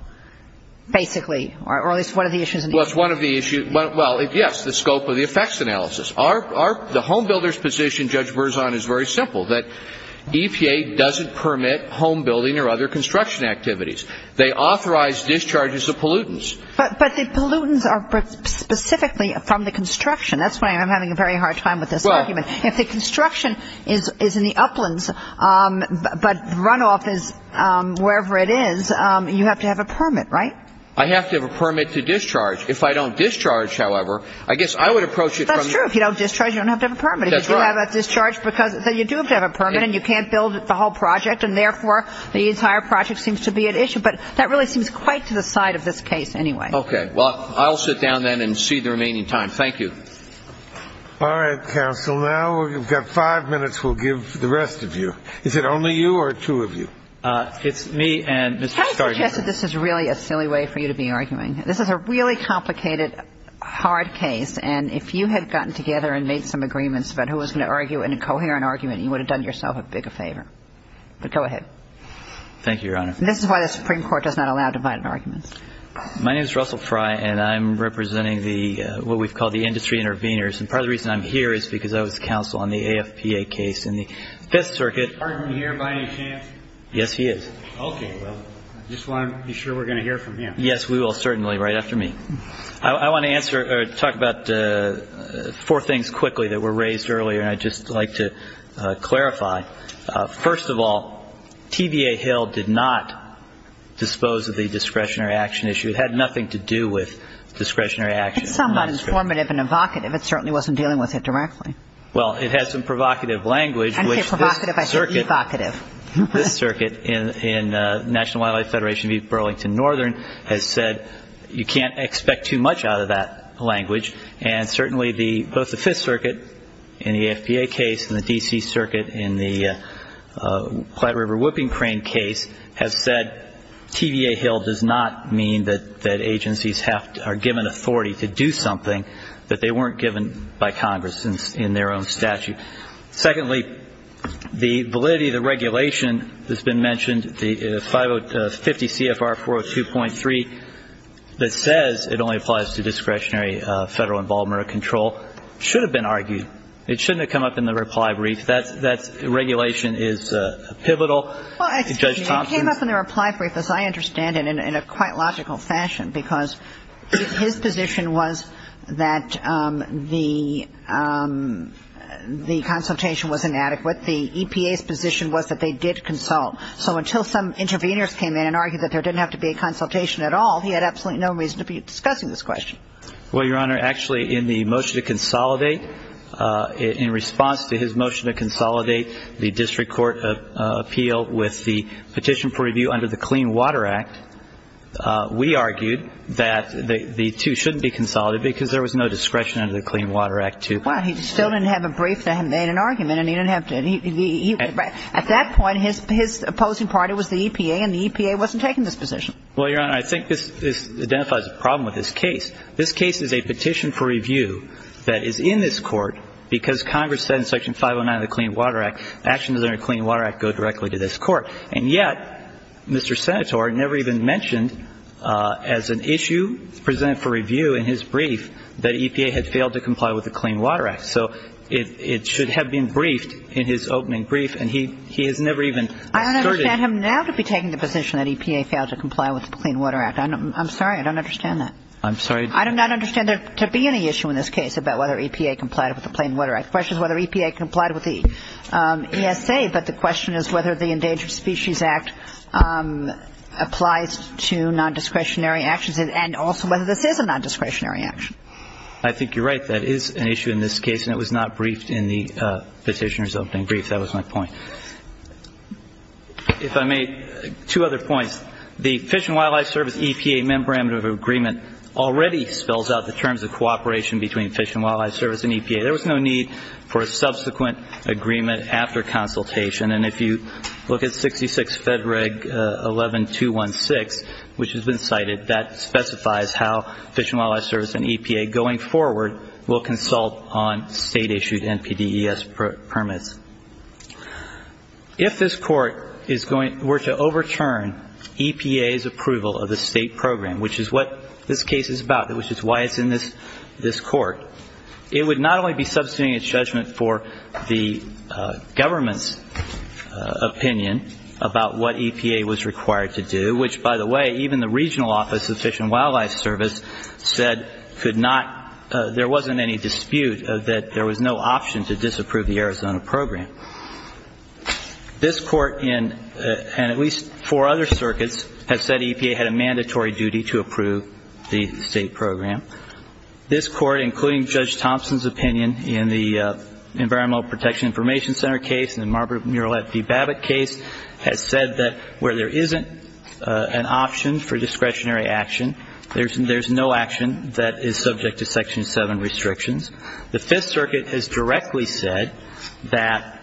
Basically, or at least one of the issues. Well, it's one of the issues. Well, yes, the scope of the effects analysis. The home builder's position, Judge Berzon, is very simple, that EPA doesn't permit home building or other construction activities. They authorize discharges of pollutants. But the pollutants are specifically from the construction. That's why I'm having a very hard time with this argument. If the construction is in the uplands, but runoff is wherever it is, you have to have a permit, right? I have to have a permit to discharge. If I don't discharge, however, I guess I would approach it from the- That's true. If you don't discharge, you don't have to have a permit. That's right. If you have a discharge, because you do have to have a permit, and you can't build the whole project, and therefore the entire project seems to be at issue. But that really seems quite to the side of this case anyway. Okay. Well, I'll sit down then and see the remaining time. Thank you. All right, counsel. Now we've got five minutes. We'll give the rest of you. Is it only you or two of you? It's me and Mr. Stark. Can I suggest that this is really a silly way for you to be arguing? This is a really complicated, hard case. And if you had gotten together and made some agreements about who was going to argue in a coherent argument, you would have done yourself a bigger favor. But go ahead. Thank you, Your Honor. This is why the Supreme Court does not allow divided arguments. My name is Russell Fry, and I'm representing what we've called the industry intervenors. And part of the reason I'm here is because I was counsel on the AFPA case in the Fifth Circuit. Is Hartman here by any chance? Yes, he is. Okay. Well, I just want to be sure we're going to hear from him. Yes, we will certainly, right after me. I want to talk about four things quickly that were raised earlier, and I'd just like to clarify. First of all, TVA Hill did not dispose of the discretionary action issue. It had nothing to do with discretionary action. It's somewhat informative and evocative. It certainly wasn't dealing with it directly. Well, it had some provocative language. I didn't say provocative. I said evocative. This circuit in National Wildlife Federation v. Burlington Northern has said you can't expect too much out of that language. And certainly both the Fifth Circuit in the AFPA case and the D.C. Circuit in the Platte River Whooping Crane case have said TVA Hill does not mean that agencies are given authority to do something that they weren't given by Congress in their own statute. Secondly, the validity of the regulation that's been mentioned, the 50 CFR 402.3, that says it only applies to discretionary federal involvement or control, should have been argued. It shouldn't have come up in the reply brief. That regulation is pivotal. Well, excuse me. It came up in the reply brief, as I understand it, in a quite logical fashion, because his position was that the consultation was inadequate. The EPA's position was that they did consult. So until some interveners came in and argued that there didn't have to be a consultation at all, he had absolutely no reason to be discussing this question. Well, Your Honor, actually in the motion to consolidate, in response to his motion to consolidate the district court appeal with the petition for review under the Clean Water Act, we argued that the two shouldn't be consolidated because there was no discretion under the Clean Water Act to. Well, he still didn't have a brief that made an argument, and he didn't have to. At that point, his opposing party was the EPA, and the EPA wasn't taking this position. Well, Your Honor, I think this identifies a problem with this case. This case is a petition for review that is in this Court because Congress said in Section 509 of the Clean Water Act, actions under the Clean Water Act go directly to this Court. And yet, Mr. Senator never even mentioned as an issue presented for review in his brief that EPA had failed to comply with the Clean Water Act. So it should have been briefed in his opening brief, and he has never even asserted. I don't understand him now to be taking the position that EPA failed to comply with the Clean Water Act. I'm sorry, I don't understand that. I'm sorry? I do not understand there to be any issue in this case about whether EPA complied with the Clean Water Act. The question is whether EPA complied with the ESA, but the question is whether the Endangered Species Act applies to nondiscretionary actions, and also whether this is a nondiscretionary action. I think you're right. That is an issue in this case, and it was not briefed in the petitioner's opening brief. That was my point. If I may, two other points. The Fish and Wildlife Service-EPA Memorandum of Agreement already spells out the terms of cooperation between Fish and Wildlife Service and EPA. There was no need for a subsequent agreement after consultation. And if you look at 66 Fed Reg 11216, which has been cited, that specifies how Fish and Wildlife Service and EPA, going forward, will consult on state-issued NPDES permits. If this Court were to overturn EPA's approval of the state program, which is what this case is about, which is why it's in this Court, it would not only be substituting its judgment for the government's opinion about what EPA was required to do, which, by the way, even the regional office of Fish and Wildlife Service said there wasn't any dispute that there was no option to disapprove the Arizona program. This Court and at least four other circuits have said EPA had a mandatory duty to approve the state program. This Court, including Judge Thompson's opinion in the Environmental Protection Information Center case and the Margaret Muralet v. Babbitt case, has said that where there isn't an option for discretionary action, there's no action that is subject to Section 7 restrictions. The Fifth Circuit has directly said that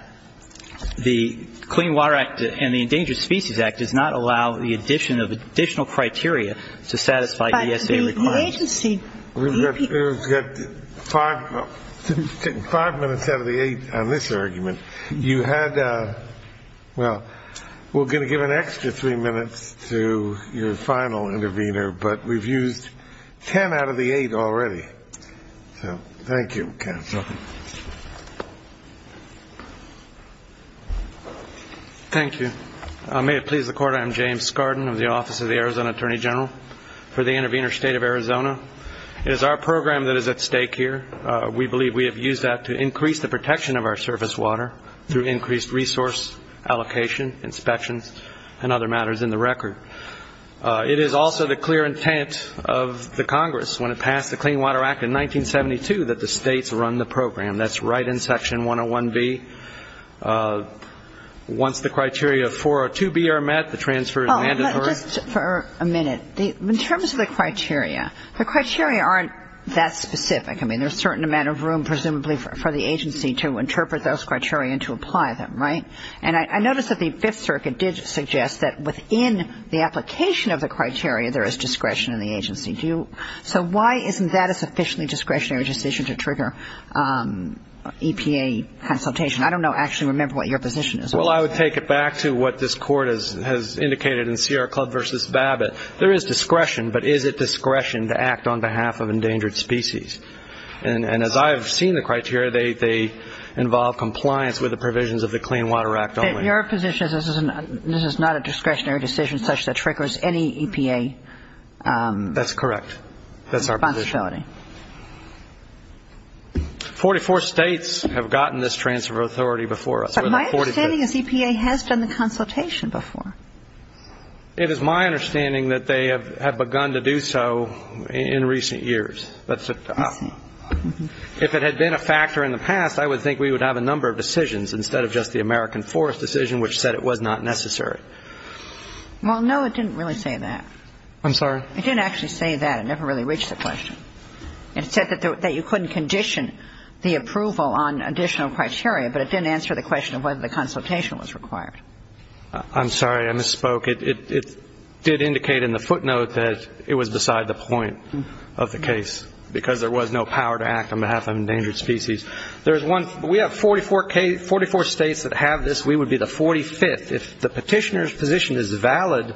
the Clean Water Act and the Endangered Species Act does not allow the addition of additional criteria to satisfy ESA requirements. We've got five minutes out of the eight on this argument. You had, well, we're going to give an extra three minutes to your final intervener, but we've used ten out of the eight already. So thank you, counsel. Thank you. May it please the Court, I am James Skarden of the Office of the Arizona Attorney General. For the intervener, State of Arizona, it is our program that is at stake here. We believe we have used that to increase the protection of our surface water through increased resource allocation, inspections, and other matters in the record. It is also the clear intent of the Congress, when it passed the Clean Water Act in 1972, that the states run the program. That's right in Section 101B. Once the criteria of 402B are met, the transfer is mandatory. Just for a minute, in terms of the criteria, the criteria aren't that specific. I mean, there's a certain amount of room, presumably, for the agency to interpret those criteria and to apply them, right? And I notice that the Fifth Circuit did suggest that within the application of the criteria, there is discretion in the agency. Do you so why isn't that a sufficiently discretionary decision to trigger EPA consultation? I don't know, actually, remember what your position is. Well, I would take it back to what this Court has indicated in Sierra Club v. Babbitt. There is discretion, but is it discretion to act on behalf of endangered species? And as I have seen the criteria, they involve compliance with the provisions of the Clean Water Act only. Your position is this is not a discretionary decision such that it triggers any EPA responsibility. That's correct. That's our position. Forty-four states have gotten this transfer of authority before us. But my understanding is EPA has done the consultation before. It is my understanding that they have begun to do so in recent years. If it had been a factor in the past, I would think we would have a number of decisions instead of just the American Forest decision, which said it was not necessary. Well, no, it didn't really say that. I'm sorry? It didn't actually say that. It never really reached the question. It said that you couldn't condition the approval on additional criteria, but it didn't answer the question of whether the consultation was required. I'm sorry. I misspoke. It did indicate in the footnote that it was beside the point of the case, because there was no power to act on behalf of endangered species. There is one we have 44 states that have this. We would be the 45th. If the Petitioner's position is valid,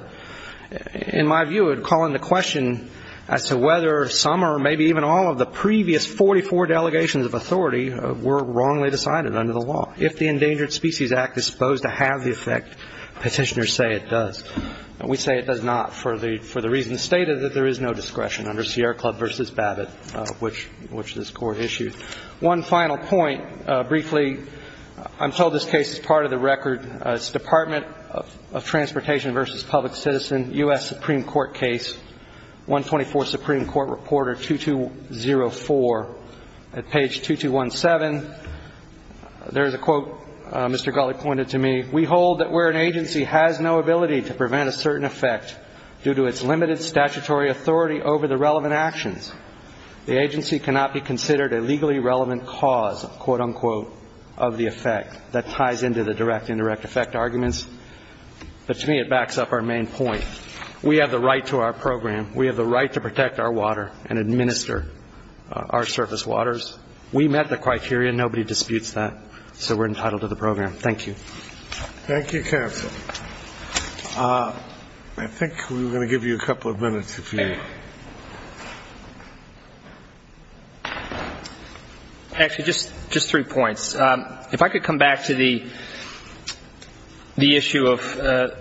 in my view, it would call into question as to whether some or maybe even all of the previous 44 delegations of authority were wrongly decided under the law. If the Endangered Species Act is supposed to have the effect, Petitioners say it does. We say it does not for the reason stated, that there is no discretion under Sierra Club v. Babbitt, which this Court issued. One final point, briefly. I'm told this case is part of the record. It's Department of Transportation v. Public Citizen, U.S. Supreme Court case, 124 Supreme Court Reporter 2204. At page 2217, there is a quote Mr. Gulley pointed to me. We hold that where an agency has no ability to prevent a certain effect due to its limited statutory authority over the relevant actions, the agency cannot be considered a legally relevant cause, quote-unquote, of the effect. That ties into the direct and indirect effect arguments. But to me, it backs up our main point. We have the right to our program. We have the right to protect our water and administer our surface waters. We met the criteria. Nobody disputes that. So we're entitled to the program. Thank you. Thank you, counsel. I think we were going to give you a couple of minutes. Actually, just three points. If I could come back to the issue of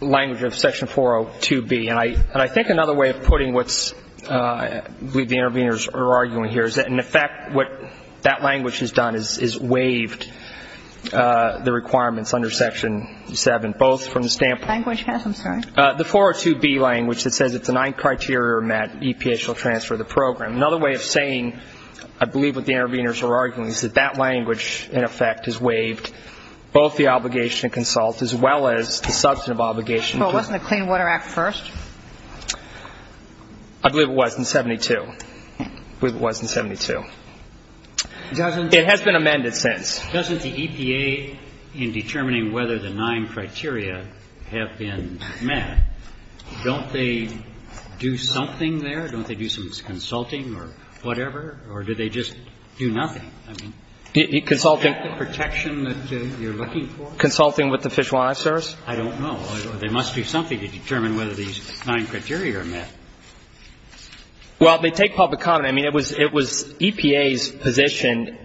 language of Section 402B, and I think another way of putting what I believe the interveners are arguing here is that, in effect, what that language has done is waived the requirements under Section 7, both from the standpoint of Language, yes, I'm sorry. The 402B language that says if the nine criteria are met, EPA shall transfer the program. Another way of saying I believe what the interveners are arguing is that that language, in effect, has waived both the obligation to consult as well as the substantive obligation. But wasn't the Clean Water Act first? I believe it was in 72. I believe it was in 72. It has been amended since. Doesn't the EPA, in determining whether the nine criteria have been met, don't they do something there? Don't they do some consulting or whatever? Or do they just do nothing? I mean, is that the protection that you're looking for? Consulting with the Fish and Wildlife Service? I don't know. There must be something to determine whether these nine criteria are met. Well, they take public comment. I mean, it was EPA's position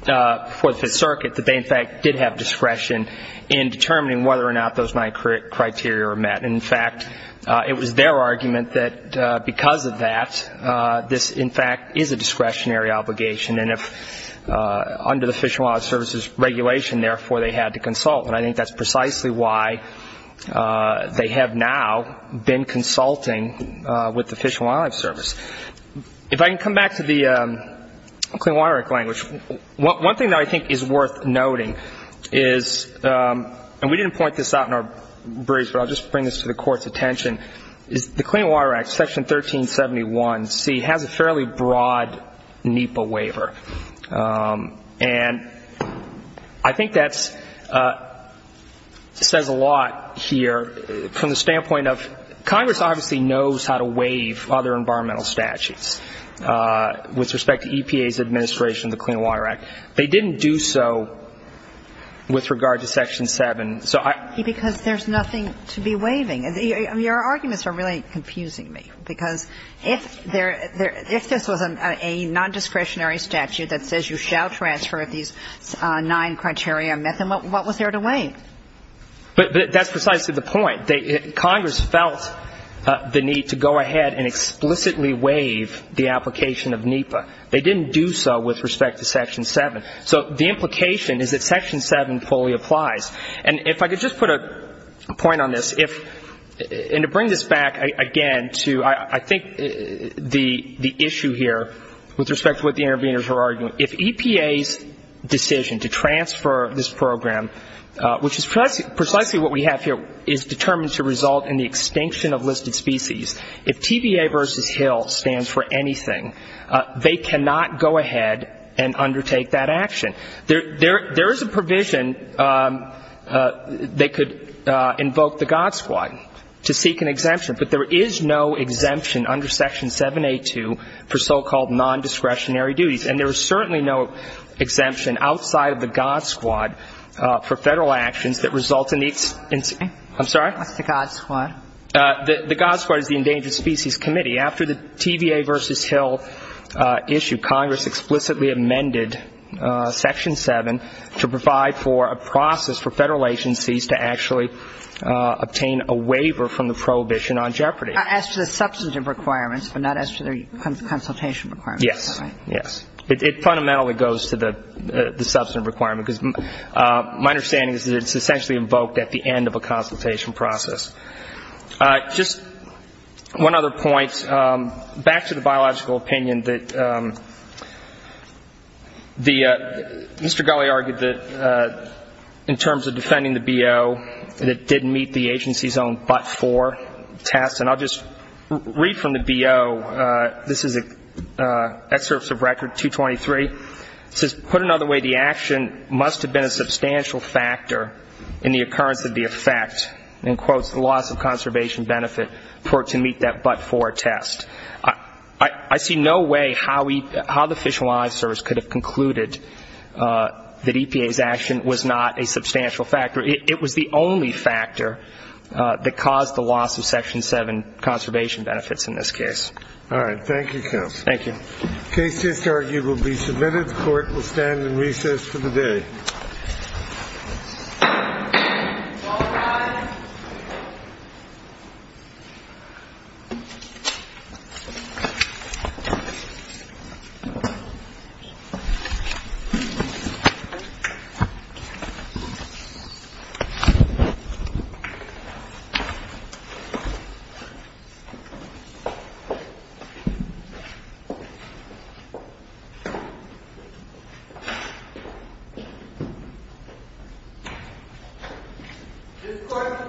before the Fifth Circuit that they, in fact, did have discretion in determining whether or not those nine criteria were met. And, in fact, it was their argument that because of that, this, in fact, is a discretionary obligation. And under the Fish and Wildlife Service's regulation, therefore, they had to consult. And I think that's precisely why they have now been consulting with the Fish and Wildlife Service. If I can come back to the Clean Water Act language, one thing that I think is worth noting is, and we didn't point this out in our brief, but I'll just bring this to the Court's attention, is the Clean Water Act, Section 1371C, has a fairly broad NEPA waiver. And I think that says a lot here from the standpoint of Congress obviously knows how to waive other environmental statutes with respect to EPA's administration of the Clean Water Act. They didn't do so with regard to Section 7. So I — Because there's nothing to be waiving. Your arguments are really confusing me, because if there — if this was a nondiscretionary statute that says you shall transfer these nine criteria met, then what was there to waive? But that's precisely the point. Congress felt the need to go ahead and explicitly waive the application of NEPA. They didn't do so with respect to Section 7. So the implication is that Section 7 fully applies. And if I could just put a point on this. And to bring this back again to I think the issue here with respect to what the interveners were arguing, if EPA's decision to transfer this program, which is precisely what we have here, is determined to result in the extinction of listed species, if TBA versus Hill stands for anything, they cannot go ahead and undertake that action. There is a provision they could invoke the God Squad to seek an exemption, but there is no exemption under Section 7.8.2 for so-called nondiscretionary duties. And there is certainly no exemption outside of the God Squad for Federal actions that result in the — I'm sorry? What's the God Squad? The God Squad is the Endangered Species Committee. After the TBA versus Hill issue, Congress explicitly amended Section 7 to provide for a process for Federal agencies to actually obtain a waiver from the Prohibition on Jeopardy. As to the substantive requirements, but not as to their consultation requirements. Yes. Is that right? Yes. It fundamentally goes to the substantive requirement. Because my understanding is that it's essentially invoked at the end of a consultation process. Just one other point. Back to the biological opinion that Mr. Gulley argued that in terms of defending the BO, that it did meet the agency's own but-for test. And I'll just read from the BO. This is an excerpt of Record 223. It says, put another way, the action must have been a substantial factor in the occurrence of the effect. In quotes, the loss of conservation benefit for it to meet that but-for test. I see no way how the Fish and Wildlife Service could have concluded that EPA's action was not a substantial factor. It was the only factor that caused the loss of Section 7 conservation benefits in this case. All right. Thank you, counsel. Thank you. The case just argued will be submitted. The Court will stand in recess for the day. All rise. This Court for this session stands adjourned.